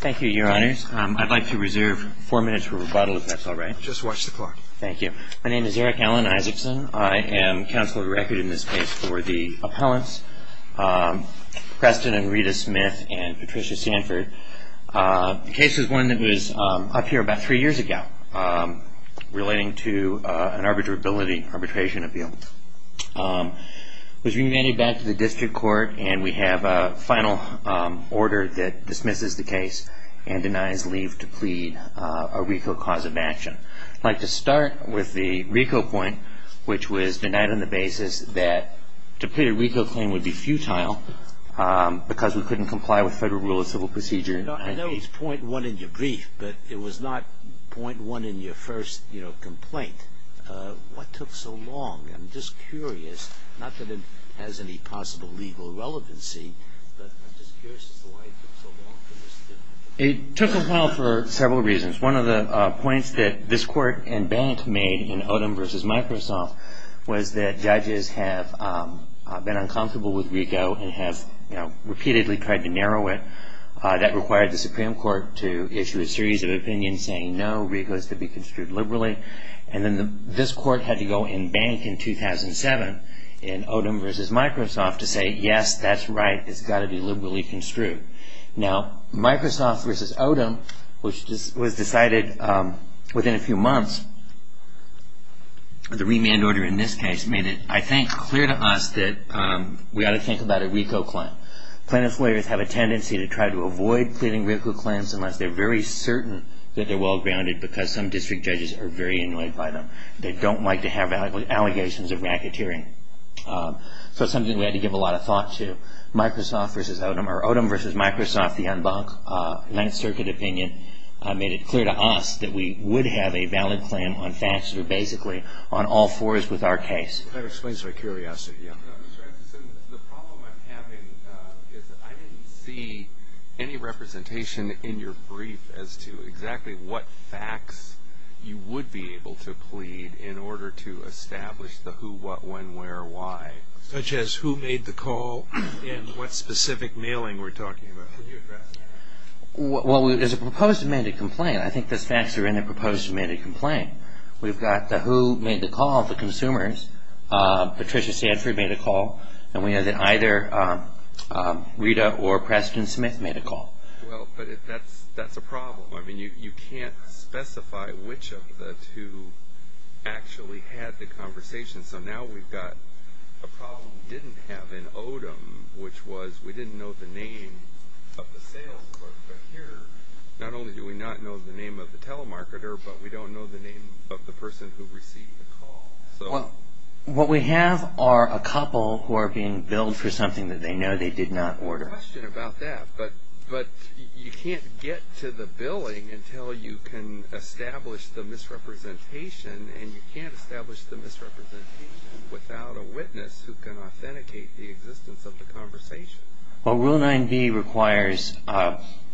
Thank you, Your Honors. I'd like to reserve four minutes for rebuttal, if that's alright. Just watch the clock. Thank you. My name is Eric Alan Isaacson. I am counsel of the record in this case for the appellants, Preston and Rita Smith and Patricia Sanford. The case is one that was up here about three years ago, relating to an arbitrability, arbitration appeal. It was remanded back to the district court, and we have a final order that dismisses the case and denies leave to plead a RICO cause of action. I'd like to start with the RICO point, which was denied on the basis that to plead a RICO claim would be futile because we couldn't comply with federal rule of civil procedure. I know it's point one in your brief, but it was not point one in your first complaint. What took so long? I'm just curious, not that it has any possible legal relevancy, but I'm just curious as to why it took so long for this to... It took a while for several reasons. One of the points that this court and bank made in Odom v. Microsoft was that judges have been uncomfortable with RICO and have repeatedly tried to narrow it. That required the Supreme Court to issue a series of opinions saying, no, RICO is to be construed liberally. And then this court had to go and bank in 2007 in Odom v. Microsoft to say, yes, that's right, it's got to be liberally construed. Now, Microsoft v. Odom, which was decided within a few months, the remand order in this case made it, I think, clear to us that we ought to think about a RICO claim. Plaintiffs' lawyers have a tendency to try to avoid pleading RICO claims unless they're very certain that they're well-grounded because some district judges are very annoyed by them. They don't like to have allegations of racketeering. So it's something we had to give a lot of thought to. Microsoft v. Odom, or Odom v. Microsoft, the Unbanked Ninth Circuit opinion, made it clear to us that we would have a valid claim on facts that are basically on all fours with our case. That explains my curiosity. The problem I'm having is that I didn't see any representation in your brief as to exactly what facts you would be able to plead in order to establish the who, what, when, where, why. Such as who made the call and what specific mailing we're talking about. Could you address that? Well, there's a proposed amended complaint. I think the facts are in a proposed amended complaint. We've got the who made the call, the consumers. Patricia Sanford made a call. And we know that either Rita or Preston Smith made a call. Well, but that's a problem. I mean, you can't specify which of the two actually had the conversation. So now we've got a problem we didn't have in Odom, which was we didn't know the name of the sales clerk. Not only do we not know the name of the telemarketer, but we don't know the name of the person who received the call. Well, what we have are a couple who are being billed for something that they know they did not order. There's a question about that. But you can't get to the billing until you can establish the misrepresentation. And you can't establish the misrepresentation without a witness who can authenticate the existence of the conversation. Well, Rule 9b requires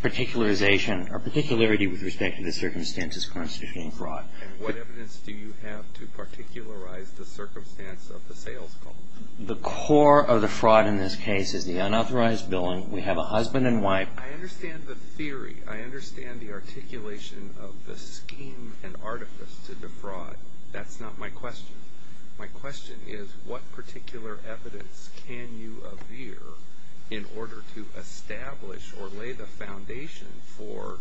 particularization or particularity with respect to the circumstances constituting fraud. And what evidence do you have to particularize the circumstance of the sales call? The core of the fraud in this case is the unauthorized billing. We have a husband and wife. I understand the theory. I understand the articulation of the scheme and artifice to defraud. That's not my question. My question is, what particular evidence can you avere in order to establish or lay the foundation for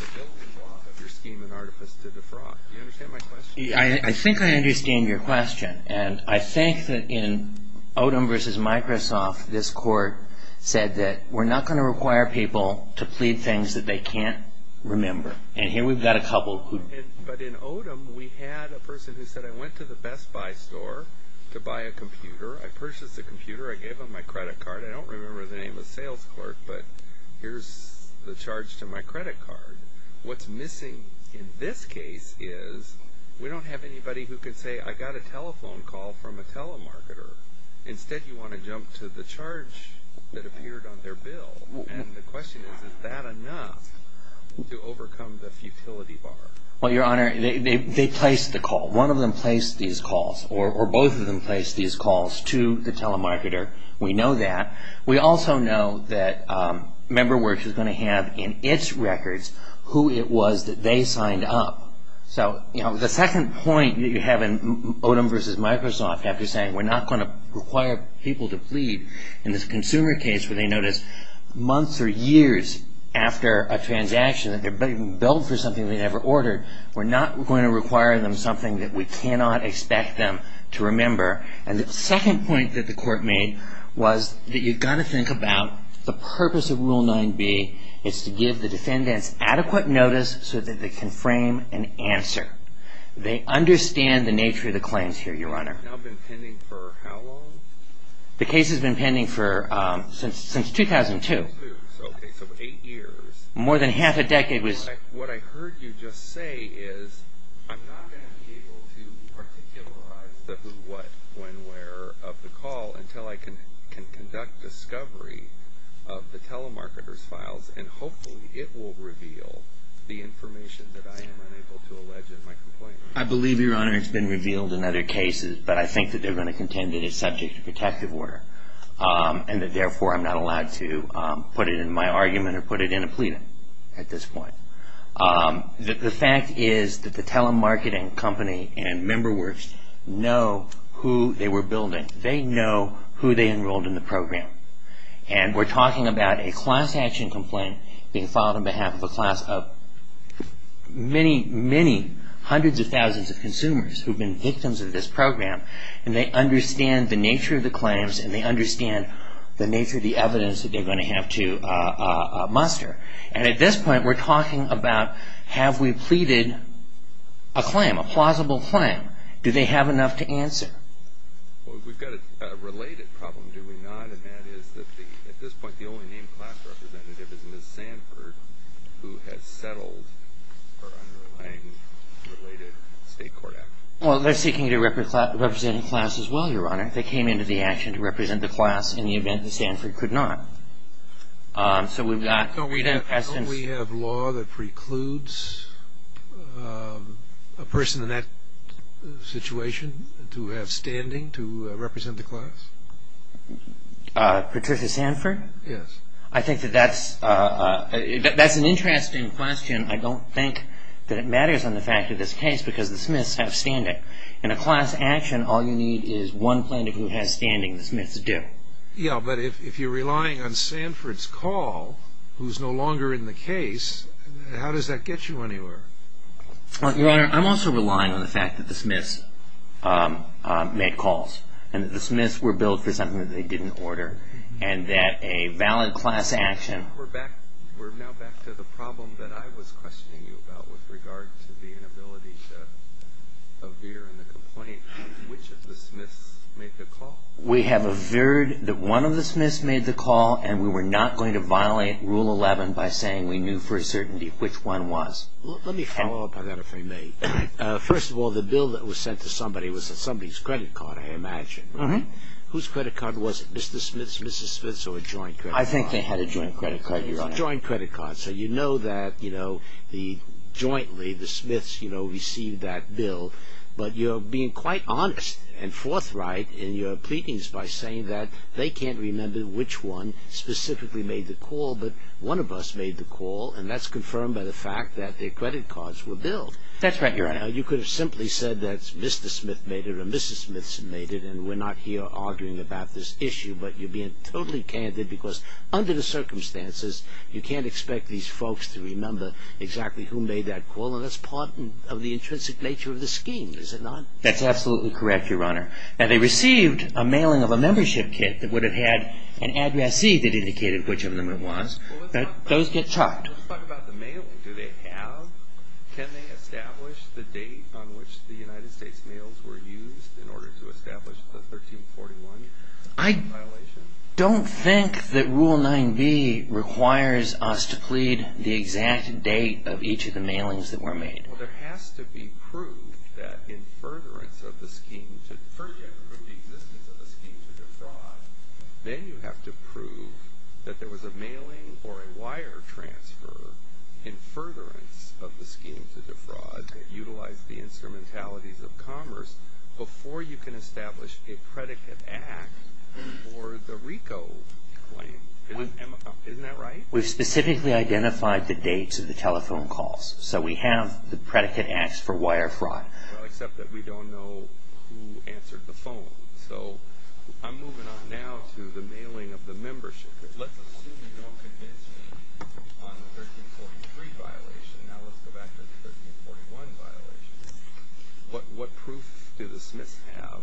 the billing block of your scheme and artifice to defraud? Do you understand my question? I think I understand your question. And I think that in Odom v. Microsoft, this court said that we're not going to require people to plead things that they can't remember. And here we've got a couple. But in Odom, we had a person who said, I went to the Best Buy store to buy a computer. I purchased a computer. I gave them my credit card. I don't remember the name of the sales clerk, but here's the charge to my credit card. What's missing in this case is we don't have anybody who can say, I got a telephone call from a telemarketer. Instead, you want to jump to the charge that appeared on their bill. And the question is, is that enough to overcome the futility bar? Well, Your Honor, they placed the call. One of them placed these calls or both of them placed these calls to the telemarketer. We know that. We also know that Member Works is going to have in its records who it was that they signed up. So, you know, the second point that you have in Odom v. Microsoft after saying we're not going to require people to plead in this consumer case where they notice months or years after a transaction that they're being billed for something they never ordered, we're not going to require them something that we cannot expect them to remember. And the second point that the court made was that you've got to think about the purpose of Rule 9b. It's to give the defendants adequate notice so that they can frame an answer. They understand the nature of the claims here, Your Honor. Now been pending for how long? The case has been pending since 2002. So eight years. More than half a decade. What I heard you just say is I'm not going to be able to particularize the who, what, when, where of the call until I can conduct discovery of the telemarketer's files, and hopefully it will reveal the information that I am unable to allege in my complaint. I believe, Your Honor, it's been revealed in other cases, but I think that they're going to contend that it's subject to protective order and that therefore I'm not allowed to put it in my argument or put it in a pleading at this point. The fact is that the telemarketing company and member works know who they were building. They know who they enrolled in the program. And we're talking about a class action complaint being filed on behalf of a class of many, many hundreds of thousands of consumers who have been victims of this program, and they understand the nature of the claims and they understand the nature of the evidence that they're going to have to muster. And at this point we're talking about have we pleaded a claim, a plausible claim. Do they have enough to answer? Well, we've got a related problem, do we not? And that is that at this point the only named class representative is Ms. Sanford, who has settled her underlying related state court action. Well, they're seeking to represent a class as well, Your Honor. They came into the action to represent the class in the event that Sanford could not. Don't we have law that precludes a person in that situation to have standing to represent the class? Patricia Sanford? Yes. I think that that's an interesting question. I don't think that it matters on the fact of this case because the Smiths have standing. In a class action all you need is one plaintiff who has standing, the Smiths do. Yeah, but if you're relying on Sanford's call, who's no longer in the case, how does that get you anywhere? Your Honor, I'm also relying on the fact that the Smiths made calls and that the Smiths were billed for something that they didn't order and that a valid class action We're now back to the problem that I was questioning you about with regard to the inability to appear in the complaint. Which of the Smiths made the call? We have averred that one of the Smiths made the call and we were not going to violate Rule 11 by saying we knew for a certainty which one was. Let me follow up on that if I may. First of all, the bill that was sent to somebody was somebody's credit card, I imagine. Whose credit card was it? Mr. Smith's, Mrs. Smith's, or a joint credit card? I think they had a joint credit card, Your Honor. It was a joint credit card, so you know that jointly the Smiths received that bill. But you're being quite honest and forthright in your pleadings by saying that they can't remember which one specifically made the call, but one of us made the call and that's confirmed by the fact that their credit cards were billed. That's right, Your Honor. You could have simply said that Mr. Smith made it or Mrs. Smith made it and we're not here arguing about this issue, but you're being totally candid because under the circumstances you can't expect these folks to remember exactly who made that call and that's part of the intrinsic nature of the scheme, is it not? That's absolutely correct, Your Honor. Now they received a mailing of a membership kit that would have had an addressee that indicated which of them it was, but those get chopped. Let's talk about the mailing. Do they have, can they establish the date on which the United States mails were used in order to establish the 1341 violation? I don't think that Rule 9b requires us to plead the exact date of each of the mailings that were made. Well, there has to be proof that in furtherance of the scheme to, first you have to prove the existence of the scheme to defraud, then you have to prove that there was a mailing or a wire transfer in furtherance of the scheme to defraud that utilized the instrumentalities of commerce before you can establish a predicate act for the RICO claim. Isn't that right? We've specifically identified the dates of the telephone calls, so we have the predicate acts for wire fraud. Well, except that we don't know who answered the phone. So I'm moving on now to the mailing of the membership. Let's assume you don't convince me on the 1343 violation. Now let's go back to the 1341 violation. What proof do the Smiths have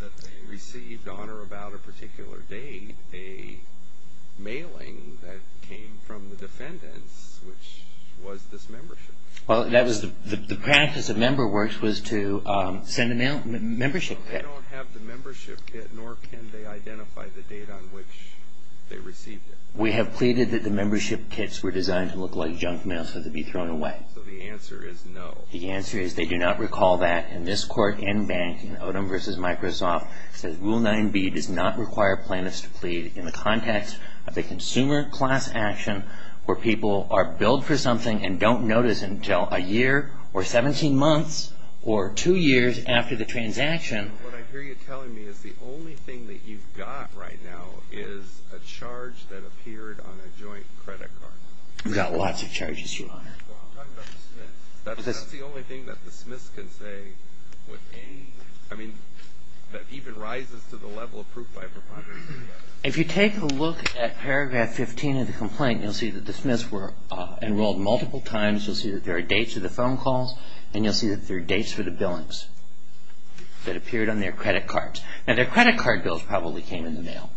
that they received on or about a particular date a mailing that came from the defendants, which was this membership? Well, the practice of member works was to send a membership kit. They don't have the membership kit, nor can they identify the date on which they received it. We have pleaded that the membership kits were designed to look like junk mail so they'd be thrown away. So the answer is no. The answer is they do not recall that, and this court in banking, Odom v. Microsoft, says Rule 9b does not require plaintiffs to plead in the context of a consumer class action where people are billed for something and don't notice until a year or 17 months or two years after the transaction. What I hear you telling me is the only thing that you've got right now is a charge that appeared on a joint credit card. We've got lots of charges, Your Honor. Well, I'm talking about the Smiths. That's the only thing that the Smiths can say with any, I mean, that even rises to the level of proof by preponderance. If you take a look at paragraph 15 of the complaint, you'll see that the Smiths were enrolled multiple times. You'll see that there are dates for the phone calls, and you'll see that there are dates for the billings that appeared on their credit cards. Now, their credit card bills probably came in the mail,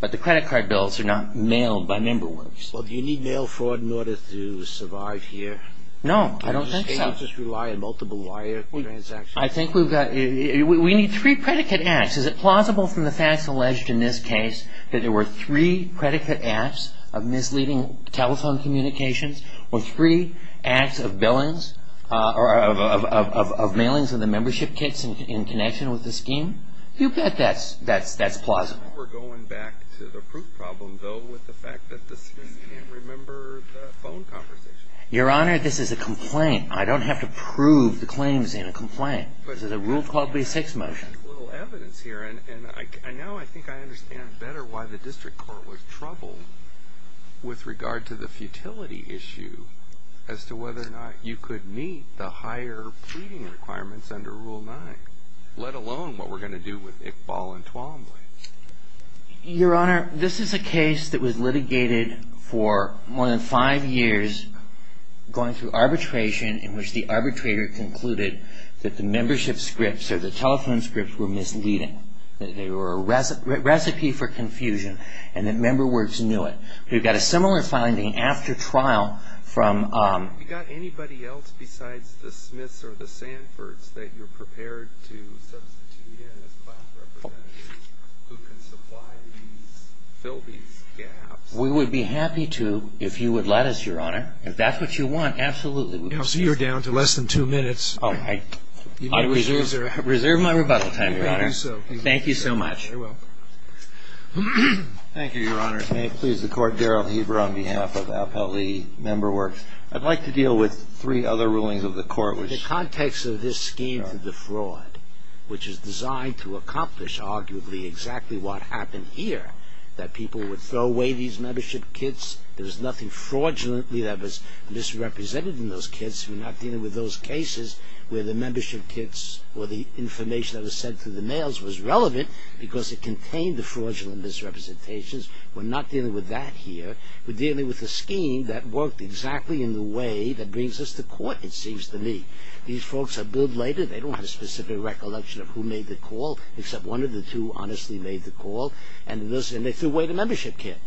but the credit card bills are not mailed by member works. Well, do you need mail fraud in order to survive here? No, I don't think so. Do you just rely on multiple wire transactions? I think we've got, we need three predicate acts. Is it plausible from the facts alleged in this case that there were three predicate acts of misleading telephone communications or three acts of billings or of mailings of the membership kits in connection with the scheme? You bet that's plausible. We're going back to the proof problem, though, with the fact that the Smiths can't remember the phone conversation. Your Honor, this is a complaint. I don't have to prove the claims in a complaint. This is a Rule 1286 motion. There's a little evidence here, and now I think I understand better why the district court was troubled with regard to the futility issue as to whether or not you could meet the higher pleading requirements under Rule 9, let alone what we're going to do with Iqbal and Twombly. Your Honor, this is a case that was litigated for more than five years going through arbitration in which the arbitrator concluded that the membership scripts or the telephone scripts were misleading, that they were a recipe for confusion, and that member works knew it. We've got a similar finding after trial from... Have you got anybody else besides the Smiths or the Sanfords that you're prepared to substitute in as class representatives who can supply these, fill these gaps? We would be happy to if you would let us, Your Honor. If that's what you want, absolutely. So you're down to less than two minutes. I reserve my rebuttal time, Your Honor. You may do so. Thank you so much. You're welcome. Thank you, Your Honor. May it please the Court. Daryl Heber on behalf of Appellee Member Works. I'd like to deal with three other rulings of the Court which... The context of this scheme for the fraud, which is designed to accomplish arguably exactly what happened here, that people would throw away these membership kits. There was nothing fraudulently that was misrepresented in those kits. We're not dealing with those cases where the membership kits or the information that was sent through the mails was relevant because it contained the fraudulent misrepresentations. We're not dealing with that here. We're dealing with a scheme that worked exactly in the way that brings us to court, it seems to me. These folks are billed later. They don't have a specific recollection of who made the call, except one of the two honestly made the call, and they threw away the membership kit.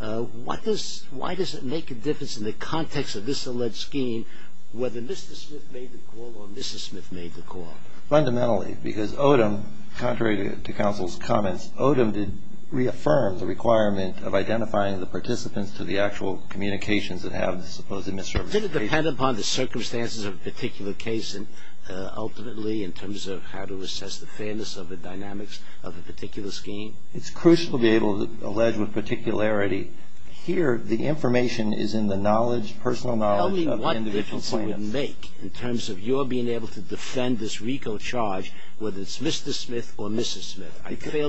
Why does it make a difference in the context of this alleged scheme whether Mr. Smith made the call or Mrs. Smith made the call? Fundamentally, because Odom, contrary to counsel's comments, Odom did reaffirm the requirement of identifying the participants to the actual communications that have the supposed misrepresentations. Did it depend upon the circumstances of a particular case ultimately in terms of how to assess the fairness of the dynamics of a particular scheme? It's crucial to be able to allege with particularity. Here, the information is in the knowledge, personal knowledge... I fail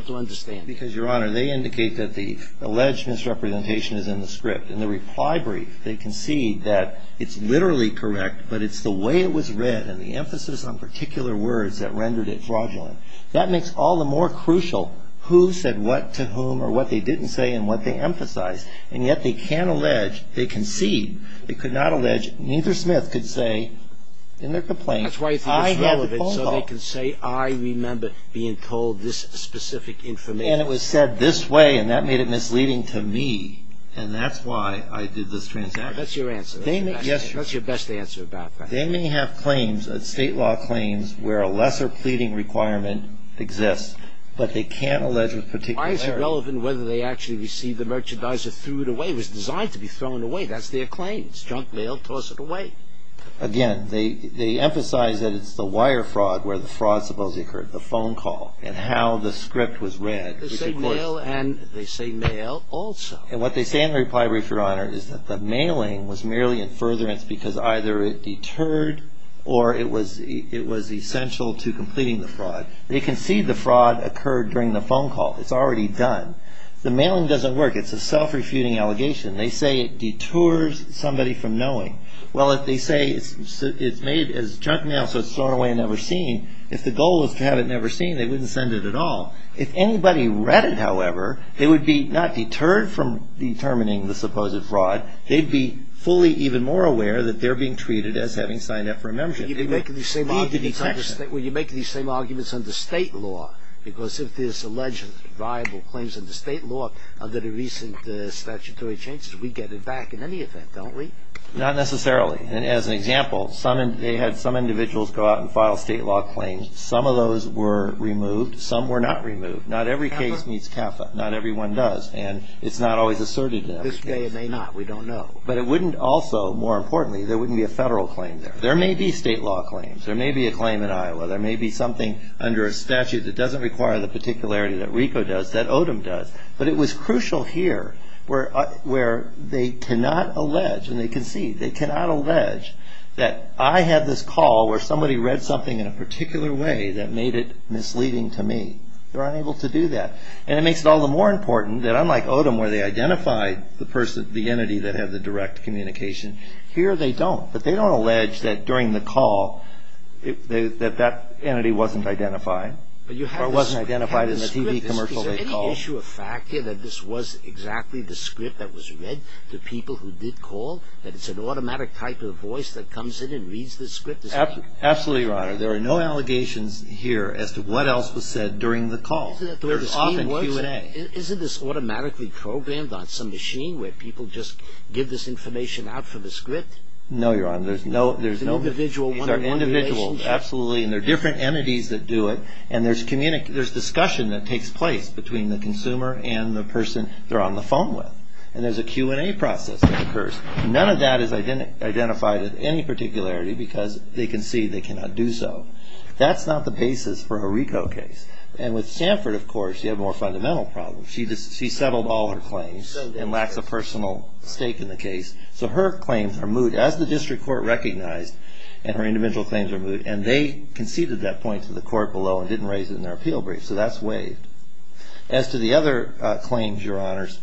to understand. Because, Your Honor, they indicate that the alleged misrepresentation is in the script. In the reply brief, they concede that it's literally correct, but it's the way it was read and the emphasis on particular words that rendered it fraudulent. That makes all the more crucial who said what to whom or what they didn't say and what they emphasized. And yet they can't allege, they concede, they could not allege, neither Smith could say in their complaint, I had the phone call. That's why you think it's relevant, so they can say, I remember being told this specific information. And it was said this way, and that made it misleading to me, and that's why I did this transaction. That's your answer. Yes, Your Honor. That's your best answer about that. They may have claims, state law claims, where a lesser pleading requirement exists, but they can't allege with particularity. Why is it relevant whether they actually received the merchandise or threw it away? It was designed to be thrown away. That's their claim. It's junk mail. Toss it away. Again, they emphasize that it's the wire fraud where the fraud supposedly occurred, the phone call, and how the script was read. They say mail and they say mail also. And what they say in the reply brief, Your Honor, is that the mailing was merely in furtherance because either it deterred or it was essential to completing the fraud. They concede the fraud occurred during the phone call. It's already done. The mailing doesn't work. It's a self-refuting allegation. They say it detours somebody from knowing. Well, if they say it's made as junk mail so it's thrown away and never seen, if the goal is to have it never seen, they wouldn't send it at all. If anybody read it, however, they would be not deterred from determining the supposed fraud. They'd be fully even more aware that they're being treated as having signed up for a membership. You make these same arguments under state law because if there's alleged, viable claims under state law under the recent statutory changes, we get it back in any event, don't we? Not necessarily. As an example, they had some individuals go out and file state law claims. Some of those were removed. Some were not removed. Not every case meets CAFA. Not every one does. And it's not always asserted in every case. This day it may not. We don't know. But it wouldn't also, more importantly, there wouldn't be a federal claim there. There may be state law claims. There may be a claim in Iowa. There may be something under a statute that doesn't require the particularity that RICO does, that ODEM does. But it was crucial here where they cannot allege, and they concede, they cannot allege that I had this call where somebody read something in a particular way that made it misleading to me. They're unable to do that. And it makes it all the more important that unlike ODEM, where they identified the entity that had the direct communication, here they don't. But they don't allege that during the call that that entity wasn't identified or wasn't identified in the TV commercial they called. Is there any issue of fact here that this was exactly the script that was read to people who did call, that it's an automatic type of voice that comes in and reads the script? Absolutely, Your Honor. There are no allegations here as to what else was said during the call. There's often Q&A. Isn't this automatically programmed on some machine where people just give this information out for the script? No, Your Honor. These are individuals, absolutely, and they're different entities that do it. And there's discussion that takes place between the consumer and the person they're on the phone with. And there's a Q&A process that occurs. None of that is identified as any particularity because they concede they cannot do so. That's not the basis for a RICO case. And with Sanford, of course, you have a more fundamental problem. She settled all her claims and lacks a personal stake in the case. So her claims are moot, as the district court recognized, and her individual claims are moot. And they conceded that point to the court below and didn't raise it in their appeal brief. So that's waived. As to the other claims, Your Honors,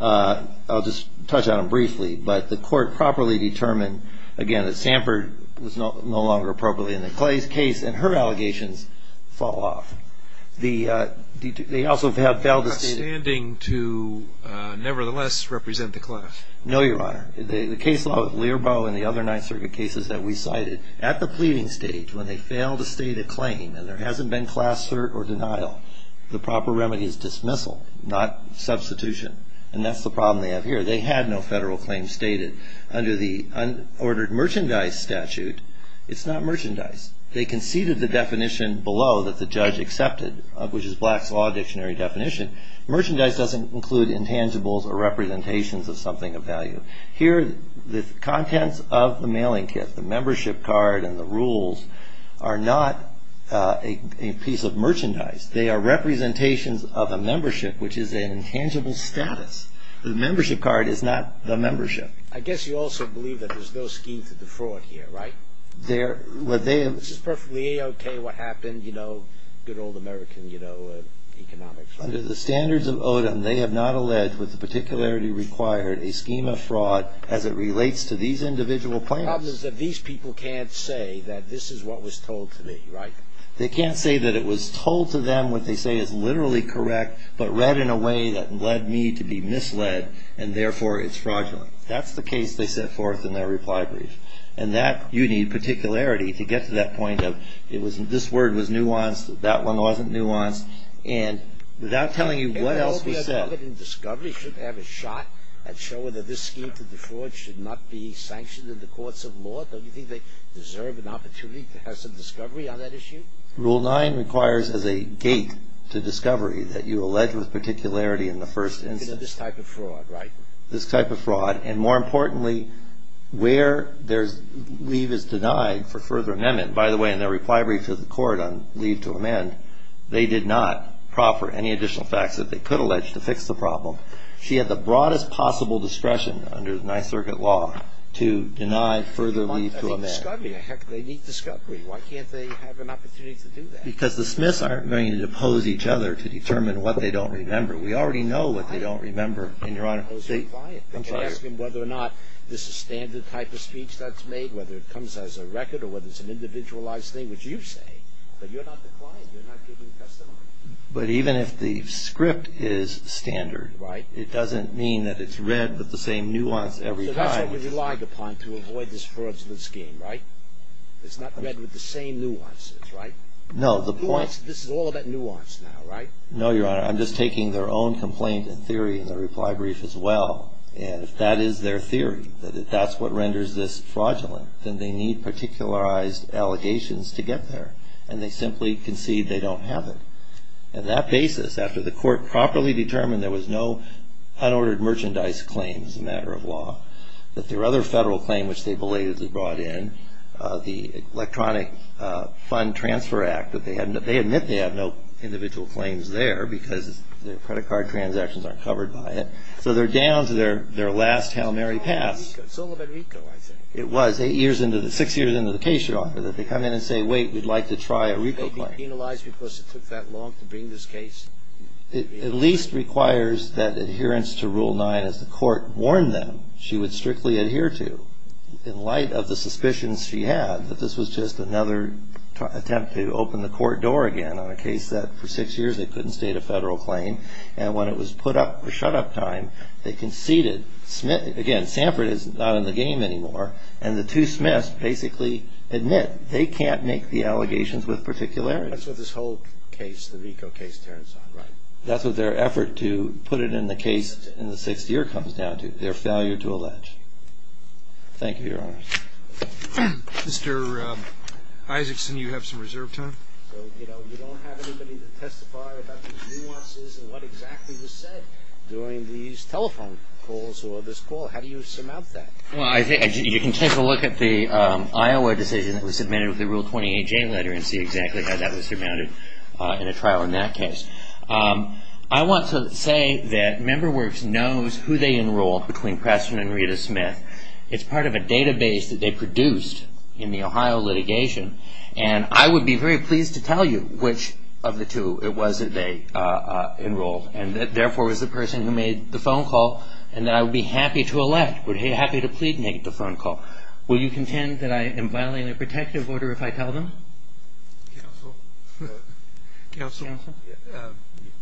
I'll just touch on them briefly. But the court properly determined, again, that Sanford was no longer appropriately in the Clay's case, and her allegations fall off. Not standing to nevertheless represent the class. No, Your Honor. The case law of Learbo and the other Ninth Circuit cases that we cited, at the pleading stage, when they fail to state a claim and there hasn't been class cert or denial, the proper remedy is dismissal, not substitution. And that's the problem they have here. They had no federal claim stated. Under the unordered merchandise statute, it's not merchandise. They conceded the definition below that the judge accepted, which is Black's Law Dictionary definition. Merchandise doesn't include intangibles or representations of something of value. Here, the contents of the mailing kit, the membership card and the rules, are not a piece of merchandise. They are representations of a membership, which is an intangible status. The membership card is not the membership. I guess you also believe that there's no scheme to defraud here, right? This is perfectly okay what happened, you know, good old American economics. Under the standards of Odom, they have not alleged with the particularity required a scheme of fraud as it relates to these individual plaintiffs. The problem is that these people can't say that this is what was told to me, right? They can't say that it was told to them, what they say is literally correct, but read in a way that led me to be misled, and therefore it's fraudulent. That's the case they set forth in their reply brief. And that, you need particularity to get to that point of, this word was nuanced, that one wasn't nuanced, and without telling you what else was said. Everybody involved in discovery should have a shot at showing that this scheme to defraud should not be sanctioned in the courts of law. Don't you think they deserve an opportunity to have some discovery on that issue? Rule 9 requires as a gate to discovery that you allege with particularity in the first instance. This type of fraud, right? This type of fraud. And more importantly, where there's leave is denied for further amendment. By the way, in their reply brief to the Court on leave to amend, they did not proffer any additional facts that they could allege to fix the problem. She had the broadest possible discretion under the Ninth Circuit law to deny further leave to amend. I think discovery, heck, they need discovery. Why can't they have an opportunity to do that? Because the Smiths aren't going to depose each other to determine what they don't remember. We already know what they don't remember. You can ask them whether or not this is standard type of speech that's made, whether it comes as a record, or whether it's an individualized thing, which you say. But you're not the client. You're not giving testimony. But even if the script is standard, it doesn't mean that it's read with the same nuance every time. That's what we relied upon to avoid this fraudulent scheme, right? It's not read with the same nuances, right? No, the point... This is all about nuance now, right? No, Your Honor. I'm just taking their own complaint and theory in the reply brief as well. And if that is their theory, that that's what renders this fraudulent, then they need particularized allegations to get there. And they simply concede they don't have it. On that basis, after the court properly determined there was no unordered merchandise claim as a matter of law, that their other federal claim, which they belatedly brought in, the Electronic Fund Transfer Act, they admit they have no individual claims there, because their credit card transactions aren't covered by it. So they're down to their last Hail Mary pass. It's all about RICO, I think. It was, six years into the case, Your Honor, that they come in and say, wait, we'd like to try a RICO claim. They'd be penalized because it took that long to bring this case. It at least requires that adherence to Rule 9, as the court warned them, she would strictly adhere to, in light of the suspicions she had, that this was just another attempt to open the court door again on a case that, for six years, they couldn't state a federal claim. And when it was put up for shut-up time, they conceded. Again, Sanford is not in the game anymore. And the two Smiths basically admit they can't make the allegations with particularity. That's what this whole case, the RICO case, turns on, right? That's what their effort to put it in the case in the sixth year comes down to, their failure to allege. Thank you, Your Honor. Mr. Isaacson, you have some reserve time. You don't have anybody to testify about the nuances and what exactly was said during these telephone calls or this call. How do you surmount that? You can take a look at the Iowa decision that was submitted with the Rule 28J letter and see exactly how that was surmounted in a trial in that case. I want to say that Member Works knows who they enrolled between Preston and Rita Smith. It's part of a database that they produced in the Ohio litigation, and I would be very pleased to tell you which of the two it was that they enrolled and that, therefore, it was the person who made the phone call and that I would be happy to elect, happy to plead and make the phone call. Will you contend that I am violating a protective order if I tell them? Counsel,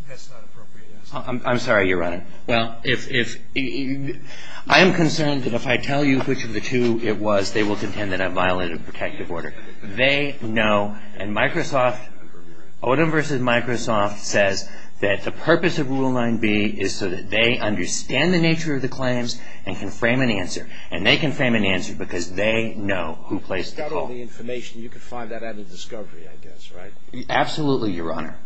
that's not appropriate. I'm sorry, Your Honor. Well, I am concerned that if I tell you which of the two it was, they will contend that I violated a protective order. They know, and Odom v. Microsoft says that the purpose of Rule 9B is so that they understand the nature of the claims and can frame an answer, and they can frame an answer because they know who placed the call. You've got all the information. You can find that at a discovery, I guess, right? Absolutely, Your Honor.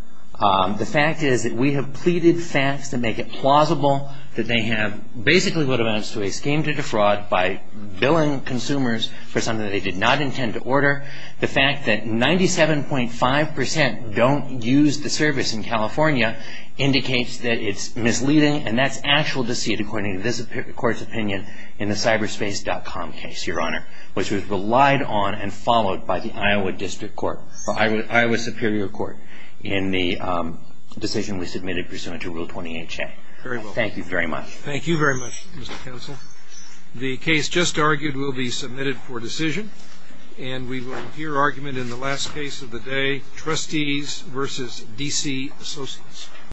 The fact is that we have pleaded facts that make it plausible that they have basically what amounts to a scheme to defraud by billing consumers for something they did not intend to order. The fact that 97.5% don't use the service in California indicates that it's misleading, and that's actual deceit according to this Court's opinion in the cyberspace.com case, Your Honor, which was relied on and followed by the Iowa Superior Court in the decision we submitted pursuant to Rule 28A. Thank you very much. Thank you very much, Mr. Counsel. The case just argued will be submitted for decision, and we will hear argument in the last case of the day, Trustees v. D.C. Associates.